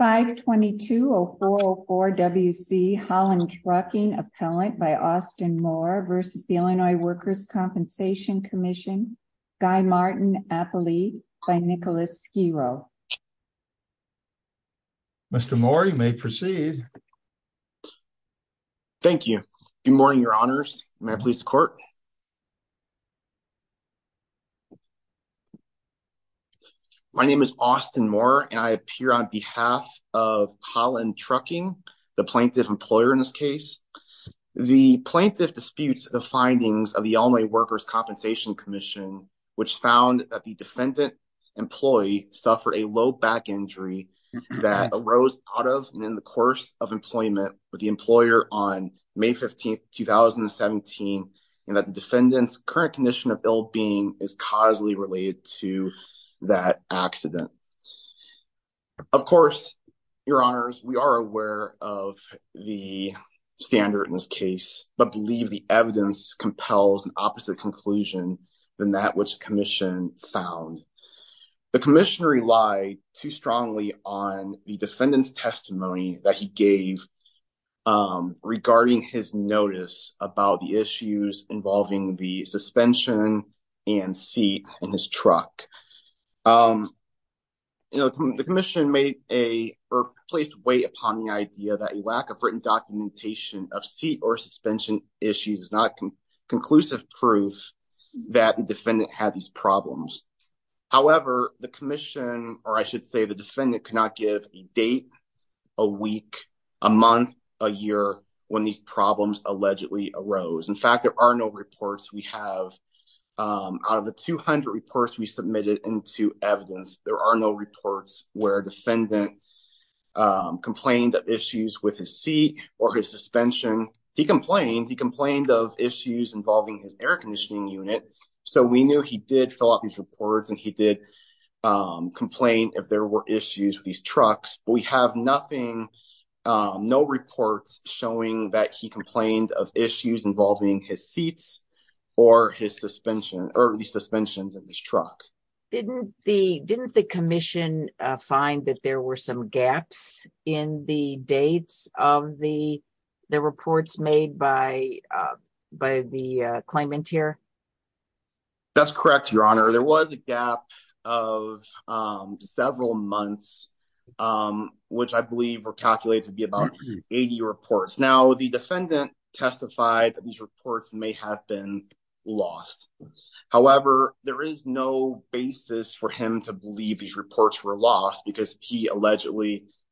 522-0404 W.C. Holland Trucking, Appellant by Austin Moore v. The Illinois Workers' Compensation Comm'n, Guy Martin, Appellee by Nicholas Sciro. Mr. Moore, you may proceed. Thank you. Good morning, your honors. May I please the court? My name is Austin Moore, and I appear on behalf of Holland Trucking, the plaintiff employer in this case. The plaintiff disputes the findings of the Illinois Workers' Compensation Commission, which found that the defendant employee suffered a low back injury that arose out of and in the employment with the employer on May 15, 2017, and that the defendant's current condition of ill-being is causally related to that accident. Of course, your honors, we are aware of the standard in this case, but believe the evidence compels an opposite conclusion than that which found. The commissioner relied too strongly on the defendant's testimony that he gave regarding his notice about the issues involving the suspension and seat in his truck. The commissioner placed weight upon the idea that a lack of written documentation of seat or suspension issues could be the cause of these problems. However, the commission, or I should say the defendant, could not give a date, a week, a month, a year when these problems allegedly arose. In fact, there are no reports we have. Out of the 200 reports we submitted into evidence, there are no reports where a defendant complained of issues with his seat or his suspension. He complained. He complained of issues involving his air conditioning unit, so we knew he did fill out these reports and he did complain if there were issues with these trucks. We have nothing, no reports showing that he complained of issues involving his seats or his suspension, or the suspensions in his truck. Didn't the commission find that there were some gaps in the dates of the reports made by the claimant here? That's correct, Your Honor. There was a gap of several months, which I believe were calculated to be about 80 reports. Now, the defendant testified that these reports may have been lost. However, there is no basis for him to believe these reports were lost because he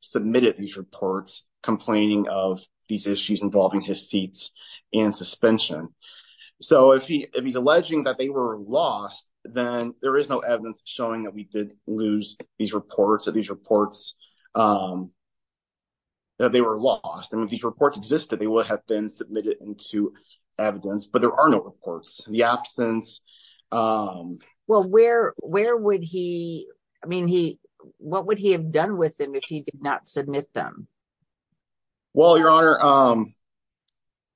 submitted these reports complaining of these issues involving his seats and suspension. If he's alleging that they were lost, then there is no evidence showing that we did lose these reports, that these reports were lost. If these reports existed, they would have been submitted into evidence, but there are no reports. The absence... What would he have done with them if he did not submit them? Well, Your Honor,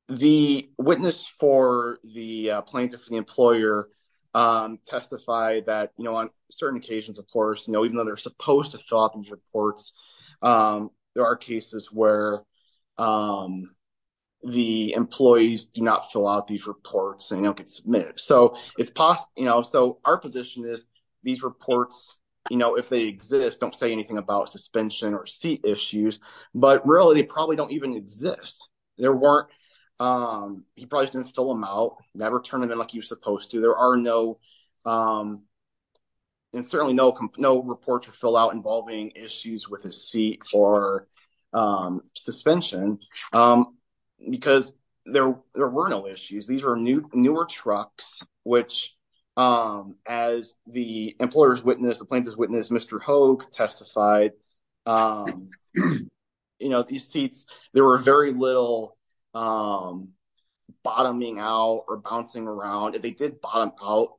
the witness for the plaintiff, the employer, testified that on certain occasions, of course, even though they're supposed to fill out these reports, there are cases where the employees do not fill out these reports and don't get submitted. So, our position is these reports, if they exist, don't say anything about suspension or seat issues, but really, they probably don't even exist. He probably just didn't fill them out, never turned them in like he was supposed to. There are no, and certainly no reports fill out involving issues with his seat or suspension, because there were no issues. These are newer trucks, which, as the employer's witness, the plaintiff's witness, Mr. Hogue, testified, these seats, there were very little bottoming out or bouncing around. If they did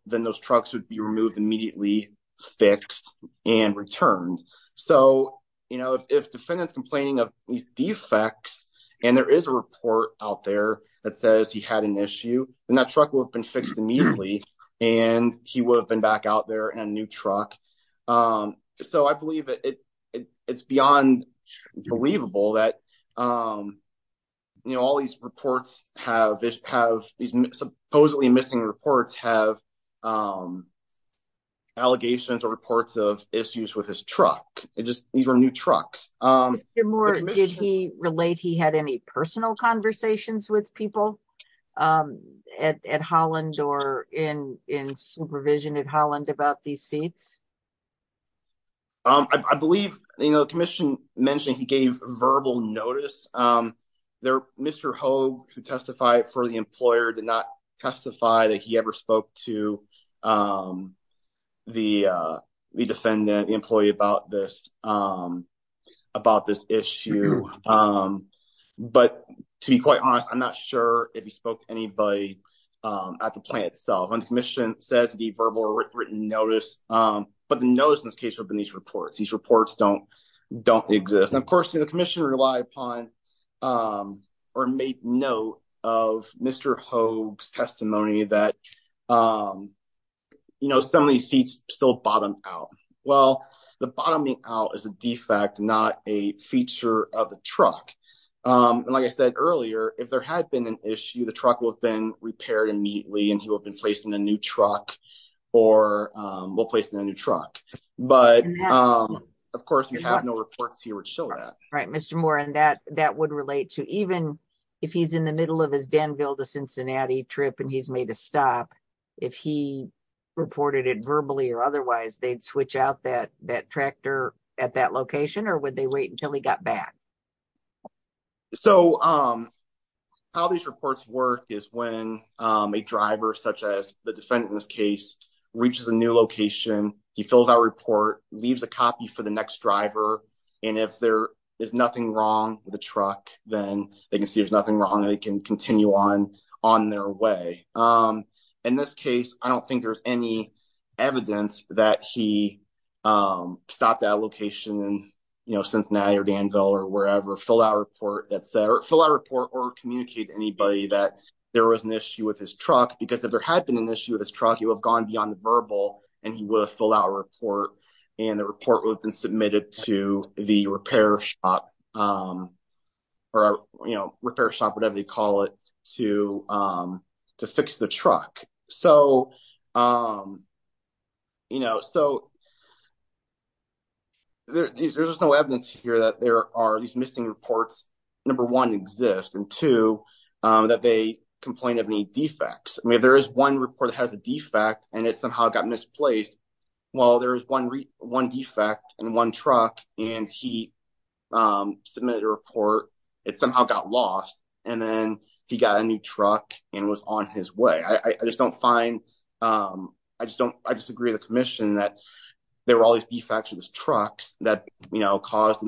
then those trucks would be removed immediately, fixed, and returned. So, if defendant's complaining of these defects, and there is a report out there that says he had an issue, then that truck would have been fixed immediately, and he would have been back out there in a new truck. So, I believe it's beyond believable that all these reports have, these supposedly missing reports have allegations or reports of issues with his truck. These were new trucks. Mr. Moore, did he relate, he had any personal conversations with people at Holland or in supervision at Holland about these seats? I believe, you know, the commission mentioned he gave verbal notice. Mr. Hogue, who testified for the employer, did not testify that he ever spoke to the defendant, the employee about this, about this issue. But to be quite honest, I'm not sure if he spoke to anybody at the notice, but the notice in this case would have been these reports. These reports don't exist. And of course, the commission relied upon or made note of Mr. Hogue's testimony that, you know, some of these seats still bottomed out. Well, the bottoming out is a defect, not a feature of the truck. And like I said earlier, if there had been an issue, the truck would have been placed in a new truck. But of course, we have no reports here to show that. Right. Mr. Moore, and that would relate to even if he's in the middle of his Danville to Cincinnati trip and he's made a stop, if he reported it verbally or otherwise, they'd switch out that tractor at that location or would they wait until he got back? So how these reports work is when a driver, such as the defendant in this case, reaches a new location, he fills out a report, leaves a copy for the next driver. And if there is nothing wrong with the truck, then they can see there's nothing wrong and they can continue on their way. In this case, I don't think there's any evidence that he stopped at a location in, you know, Cincinnati or Danville or wherever, fill out a report or communicate to anybody that there was an issue with his truck. Because if there had been an issue with his truck, he would have gone beyond the verbal and he would have filled out a report and the report would have been submitted to the repair shop or repair shop, whatever they call it, to fix the truck. So, you know, so there's no evidence here that there are these missing reports. Number one exists and two, that they complain of any defects. I mean, there's one report that has a defect and it somehow got misplaced. Well, there's one defect and one truck and he submitted a report. It somehow got lost and then he got a new truck and was on his way. I just don't find, I just don't, I disagree with the commission that there were all these defects with his trucks that, you know, caused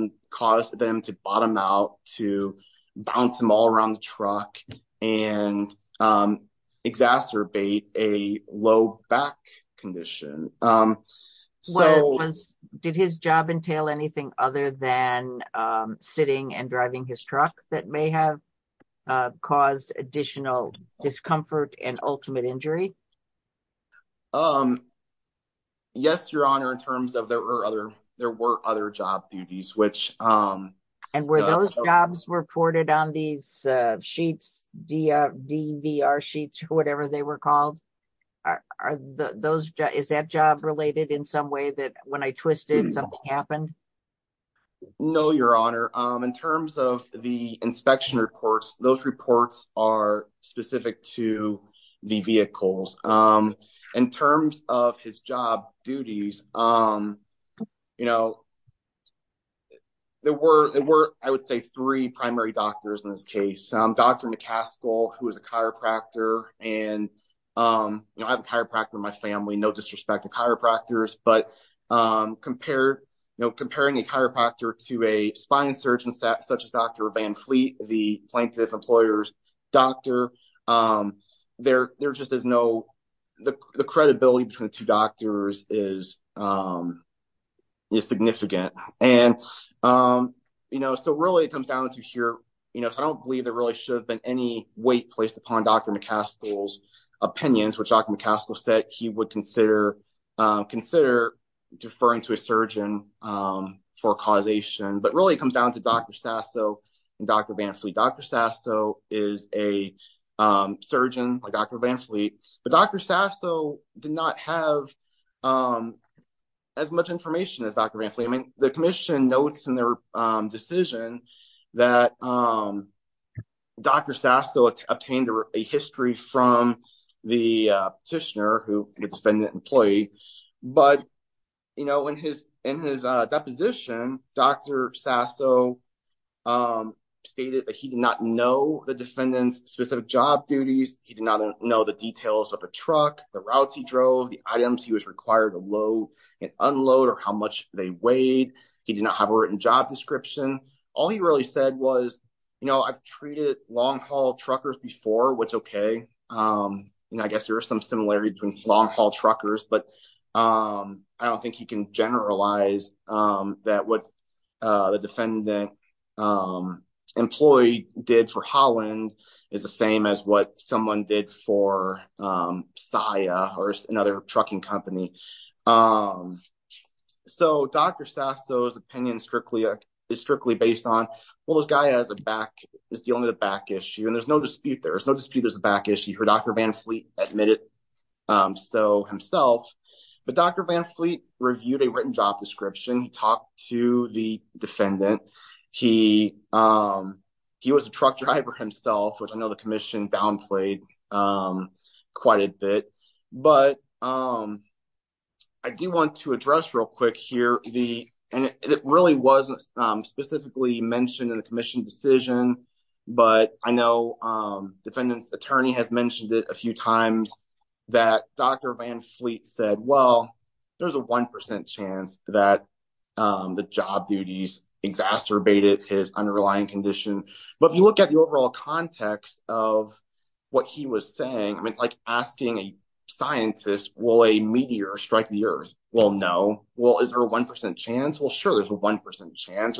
them to bottom out, to bounce them all around the truck and exacerbate a low back condition. Did his job entail anything other than sitting and driving his truck that may have caused additional discomfort and ultimate injury? Yes, Your Honor, in terms of there were other, there were other job duties, which... Jobs reported on these sheets, DVR sheets, whatever they were called. Are those, is that job related in some way that when I twisted something happened? No, Your Honor. In terms of the inspection reports, those reports are specific to the vehicles. In terms of his job duties, you know, there were, I would say, three primary doctors in this case. Dr. McCaskill, who is a chiropractor and, you know, I have a chiropractor in my family, no disrespect to chiropractors, but compared, you know, comparing a chiropractor to a surgeon such as Dr. Van Fleet, the plaintiff employer's doctor, there just is no, the credibility between the two doctors is significant. And, you know, so really it comes down to here, you know, I don't believe there really should have been any weight placed upon Dr. McCaskill's opinions, which Dr. McCaskill said he would consider deferring to a surgeon for causation, but really it comes down to Dr. Sasso and Dr. Van Fleet. Dr. Sasso is a surgeon, like Dr. Van Fleet, but Dr. Sasso did not have as much information as Dr. Van Fleet. I mean, the commission notes in their decision that Dr. Sasso obtained a history from the petitioner, who Dr. Sasso stated that he did not know the defendant's specific job duties. He did not know the details of the truck, the routes he drove, the items he was required to load and unload, or how much they weighed. He did not have a written job description. All he really said was, you know, I've treated long haul truckers before, which is okay. You know, I guess there is some similarity between long haul truckers, but I don't think you can generalize that what the defendant employee did for Holland is the same as what someone did for SIA or another trucking company. So Dr. Sasso's opinion is strictly based on, well, this guy is dealing with a back issue, and there's no dispute there. There's no dispute there's a back issue. Dr. Van Fleet admitted so himself, but Dr. Van Fleet reviewed a written job description. He talked to the defendant. He was a truck driver himself, which I know the commission downplayed quite a bit, but I do want to address real quick here, and it really wasn't specifically mentioned in the commission decision, but I know defendant's attorney has mentioned it a few times that Dr. Van Fleet said, well, there's a 1% chance that the job duties exacerbated his underlying condition. But if you look at the overall context of what he was saying, I mean, it's like asking a scientist, will a meteor strike the earth? Well, no. Well, is there a 1% chance? Well, sure, there's a 1% chance.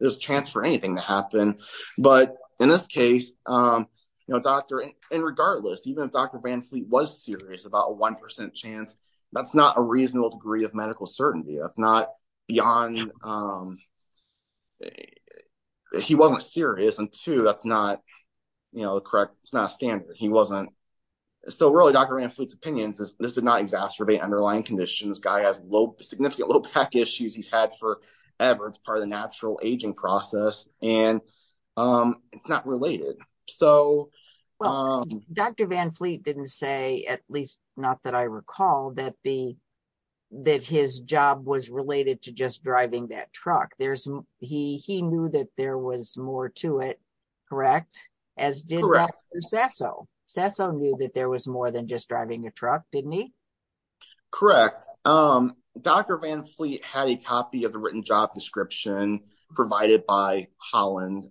There's a chance for anything to happen. But in this case, and regardless, even if Dr. Van Fleet was serious about a 1% chance, that's not a reasonable degree of medical certainty. That's not beyond, he wasn't serious, and two, that's not the correct, it's not a standard. He wasn't, so really Dr. Van Fleet's opinion is this did not exacerbate underlying conditions. This guy has significant low back issues he's had forever. It's part of the natural aging process, and it's not related. Dr. Van Fleet didn't say, at least not that I recall, that his job was related to just driving that truck. He knew that there was more to it, correct, as did Dr. Sasso. Sasso knew that there was more than just driving a truck, didn't he? Correct. Dr. Van Fleet had a copy of the written job description provided by Holland,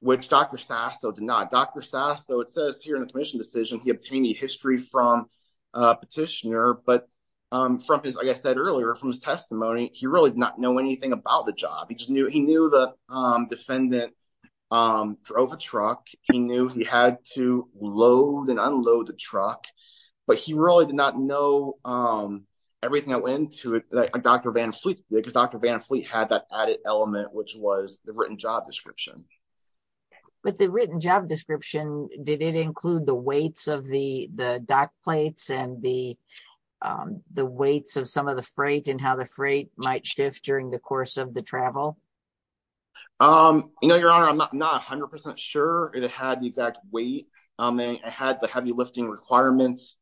which Dr. Sasso did not. Dr. Sasso, it says here in the commission decision, he obtained a history from a petitioner, but from his, like I said earlier, from his testimony, he really did not know anything about the job. He knew the defendant drove a truck. He knew he had to load and unload the truck, but he really did not know everything that went into it. Dr. Van Fleet had that added element, which was the written job description. With the written job description, did it include the weights of the dock plates and the weights of some of the freight and how the freight might shift during the course of the travel? Your Honor, I'm not 100% sure it had the exact weight. It had the heavy lifting requirements,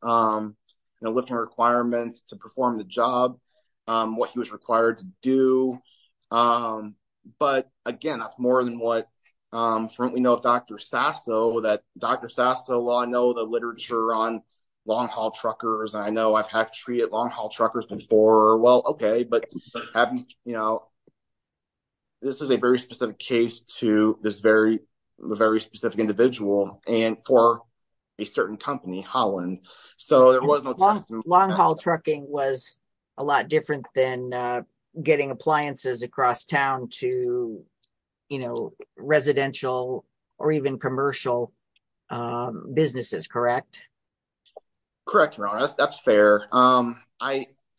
lifting requirements to perform the job, what he was required to do. But again, that's more than what we know of Dr. Sasso. Dr. Sasso, while I know the literature on long-haul truckers, I know I've had to treat long-haul truckers before. Well, okay, but this is a very specific case to this very specific individual. For a certain company, Holland. Long-haul trucking was a lot different than getting appliances across town to residential or even commercial businesses, correct? Correct, Your Honor. That's fair.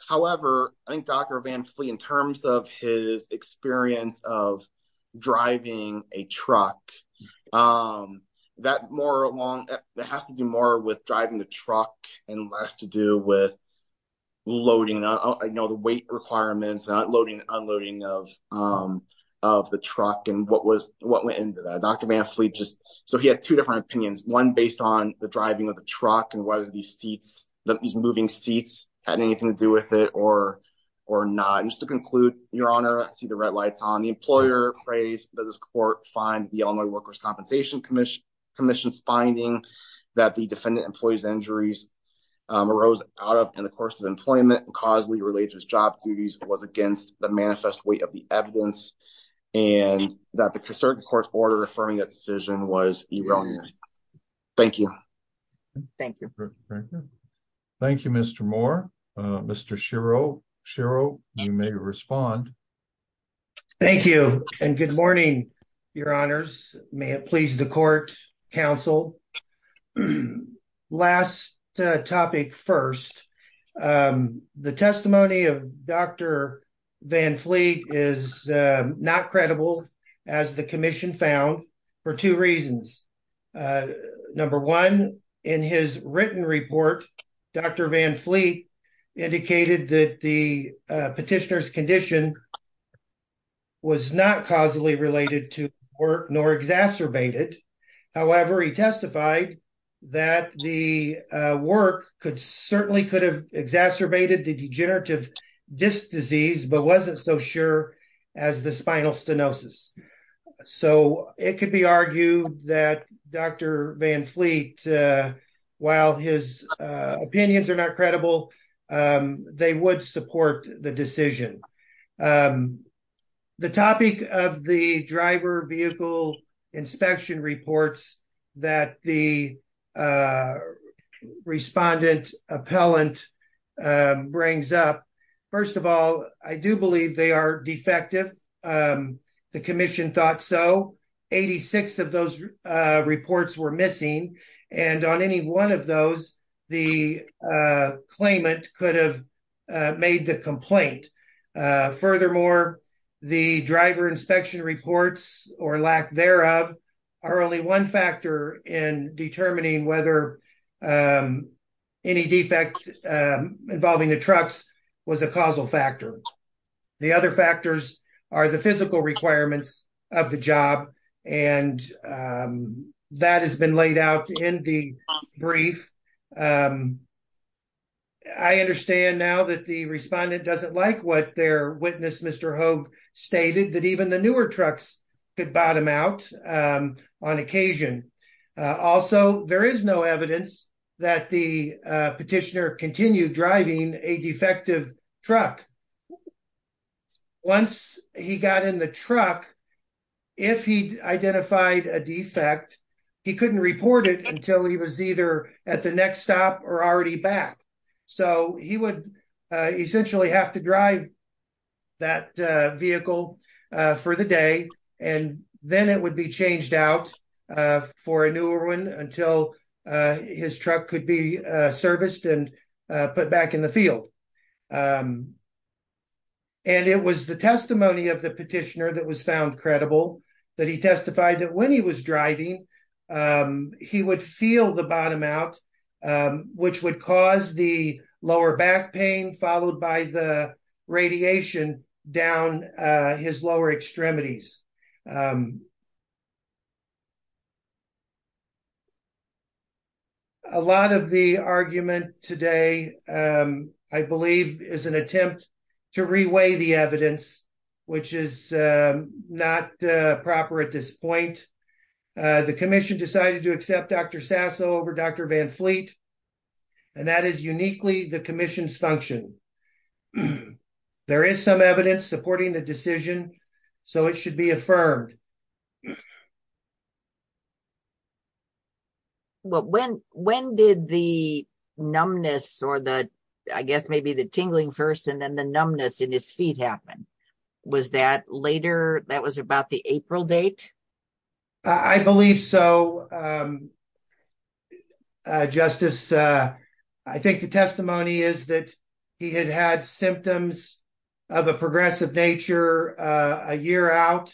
However, I think Dr. Van Fleet, in terms of his experience of a truck, that has to do more with driving the truck and less to do with loading. I know the weight requirements and unloading of the truck and what went into that. Dr. Van Fleet, he had two different opinions, one based on the driving of the truck and whether these moving seats had anything to do with it or not. And just to conclude, Your Honor, I see the red lights on. The employer prays that this court find the Illinois Workers' Compensation Commission's finding that the defendant employee's injuries arose out of in the course of employment and causally related to his job duties was against the manifest weight of the evidence and that the certain court's order affirming that decision was erroneous. Thank you. Thank you. Thank you, Mr. Moore. Mr. Schiro, you may respond. Thank you and good morning, Your Honors. May it please the court, counsel. Last topic first, the testimony of Dr. Van Fleet is not credible as the commission found for two reasons. Number one, in his written report, Dr. Van Fleet indicated that the petitioner's work was not causally related to work nor exacerbated. However, he testified that the work could certainly could have exacerbated the degenerative disc disease, but wasn't so sure as the spinal stenosis. So it could be argued that Dr. Van Fleet, while his opinions are not the topic of the driver vehicle inspection reports that the respondent appellant brings up. First of all, I do believe they are defective. The commission thought so. 86 of those reports were missing and on any one of those, the claimant could have made the complaint. Furthermore, the driver inspection reports or lack thereof are only one factor in determining whether any defect involving the trucks was a causal factor. The other factors are the physical requirements of the job and that has been laid out in the brief. I understand now that the respondent doesn't like what their witness Mr. Hoag stated that even the newer trucks could bottom out on occasion. Also, there is no evidence that the petitioner continued driving a defective truck. Once he got in the truck, if he identified a defect, he couldn't report it until he was either at the next stop or already back. So he would essentially have to drive that vehicle for the day and then it would be changed out for a newer one until his truck could be serviced and put back in the field. It was the testimony of the petitioner that was found driving. He would feel the bottom out which would cause the lower back pain followed by the radiation down his lower extremities. A lot of the argument today I believe is an attempt to re-weigh the evidence which is not proper at this point. The commission decided to accept Dr. Sasso over Dr. Van Fleet and that is uniquely the commission's function. There is some evidence supporting the decision so it should be affirmed. Well, when did the numbness or the I guess maybe the tingling first and then the numbness in his feet happen? Was that later? That was about the April date? I believe so. Justice, I think the testimony is that he had had symptoms of a progressive nature a year out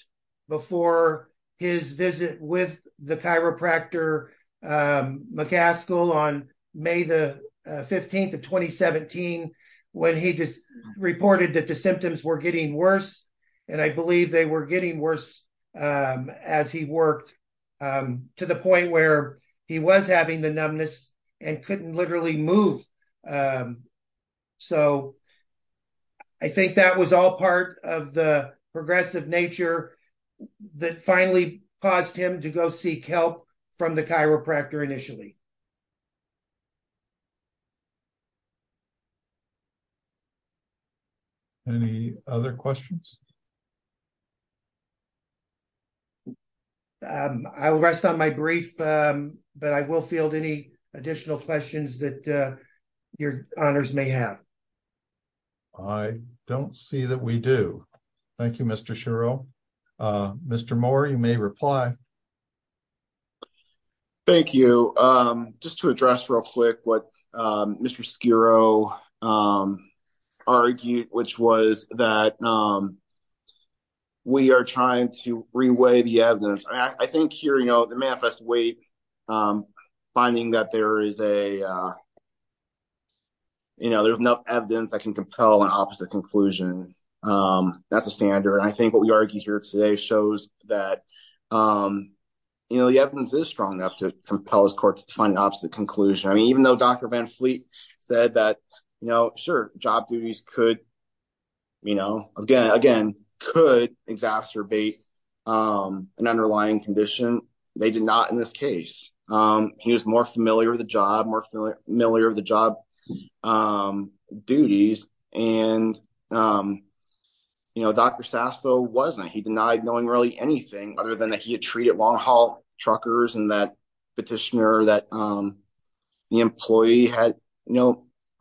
before his visit with the chiropractor McCaskill on May the 15th of 2017 when he just reported that the symptoms were getting worse. I believe they were getting worse as he worked to the point where he was having the numbness and couldn't literally move. I think that was all part of the progressive nature that finally caused him to go seek help from the chiropractor initially. Any other questions? I will rest on my brief but I will field any additional questions that your honors may have. I don't see that we do. Thank you, Mr. Schiro. Mr. Moore, you may reply. Thank you. Just to address real quick what Mr. Schiro argued, which was that we are trying to reweigh the evidence. I think here the manifest weight finding that there is enough evidence that can compel an opposite conclusion. That's a standard. I think what he argued here today shows that the evidence is strong enough to compel his courts to find an opposite conclusion. Even though Dr. Van Fleet said that, sure, job duties could exacerbate an underlying condition, they did not in this case. He was more familiar with the job duties. Dr. Sasso denied knowing anything other than that he had treated long haul truckers and that petitioner that the employee had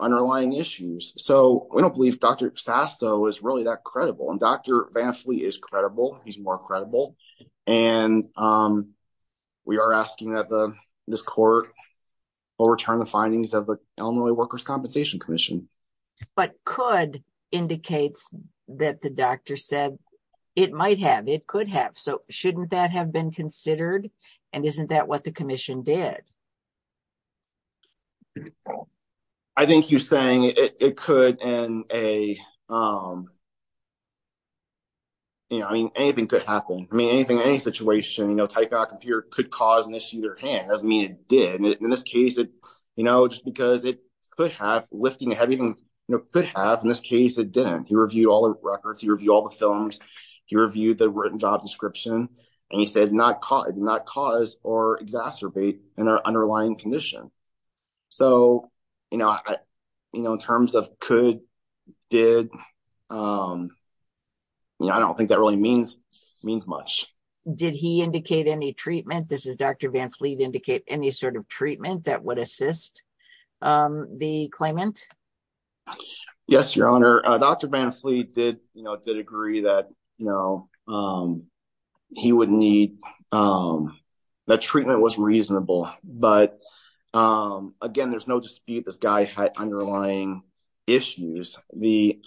underlying issues. We don't believe Dr. Sasso is really that credible. Dr. Van Fleet is credible. He's more credible. We are asking that this court will return the findings of the Illinois Workers' Compensation Commission. But could indicates that the doctor said it might have. It could have. So shouldn't that have been considered? Isn't that what the commission did? I think he's saying it could. Anything could happen. Any situation, could cause an issue. In this case, it could have. He reviewed all the records. He reviewed all the films. He reviewed the written job description. He said it did not cause or exacerbate an underlying condition. In terms of could, did, I don't think that really means much. Did he indicate any treatment? Does Dr. Van Fleet indicate any sort of treatment that would assist the claimant? Yes, Your Honor. Dr. Van Fleet did agree that he would need, that treatment was reasonable. But again, there's no dispute this guy had underlying issues. The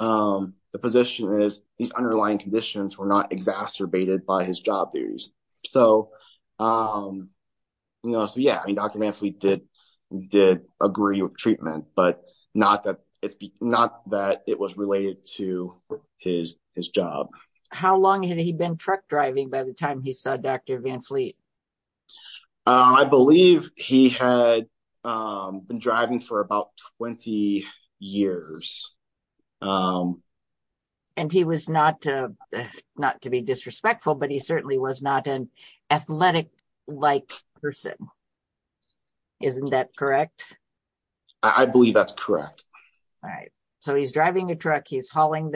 position is these underlying conditions were not exacerbated by his job. So yeah, Dr. Van Fleet did agree with treatment, but not that it was related to his job. How long had he been truck driving by the time he saw Dr. Van Fleet? I believe he had been driving for about 20 years. And he was not, not to be disrespectful, but he certainly was not an athletic-like person. Isn't that correct? I believe that's correct. All right. So he's driving a truck. He's hauling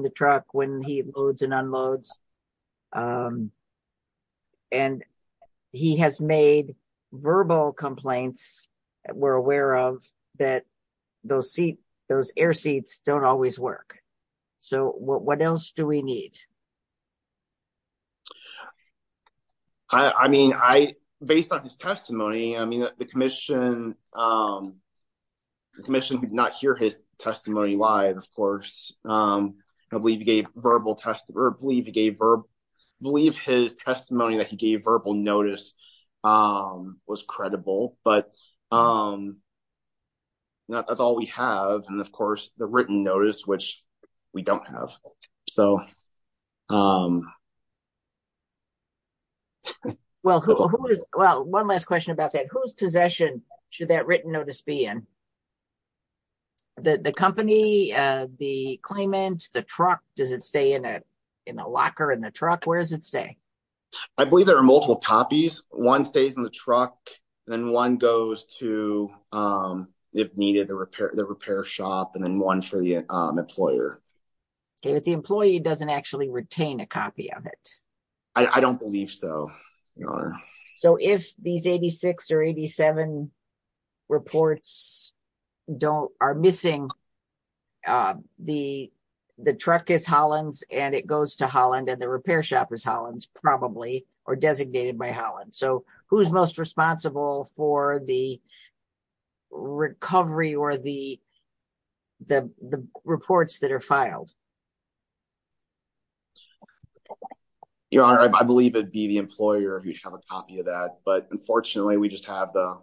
the truck when he loads and unloads. And he has made verbal complaints that we're aware of, that those air seats don't always work. So what else do we need? I mean, based on his testimony, I mean, the commission did not hear his testimony live, of course. I believe he gave verbal testimony, or I believe his testimony that he gave verbal notice was credible, but that's all we have. And of course the written notice, which we don't have. Well, one last question about that. Whose possession should that written notice be in? The company, the claimant, the truck, does it stay in a locker in the truck? Where does it stay? I believe there are multiple copies. One stays in the truck, and then one goes to, if needed, the repair shop, and then one for the employer. Okay, but the employee doesn't actually retain a copy of it? I don't believe so, Your Honor. So if these 86 or 87 reports are missing, the truck is Holland's, and it goes to Holland, and the repair shop is Holland's, probably, or designated by Holland. So who's most responsible for the recovery or the reports that are filed? Your Honor, I believe it'd be the employer who'd have a copy of that, but unfortunately we just have the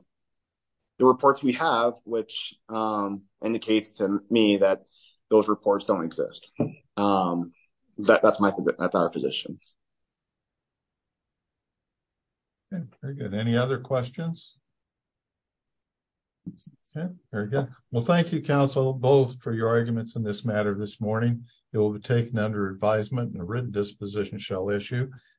reports we have, which indicates to me that those reports don't exist. That's my position. Okay, very good. Any other questions? Okay, very good. Well, thank you, counsel, both for your arguments in this matter this morning. It will be taken under advisement, and a written disposition shall issue.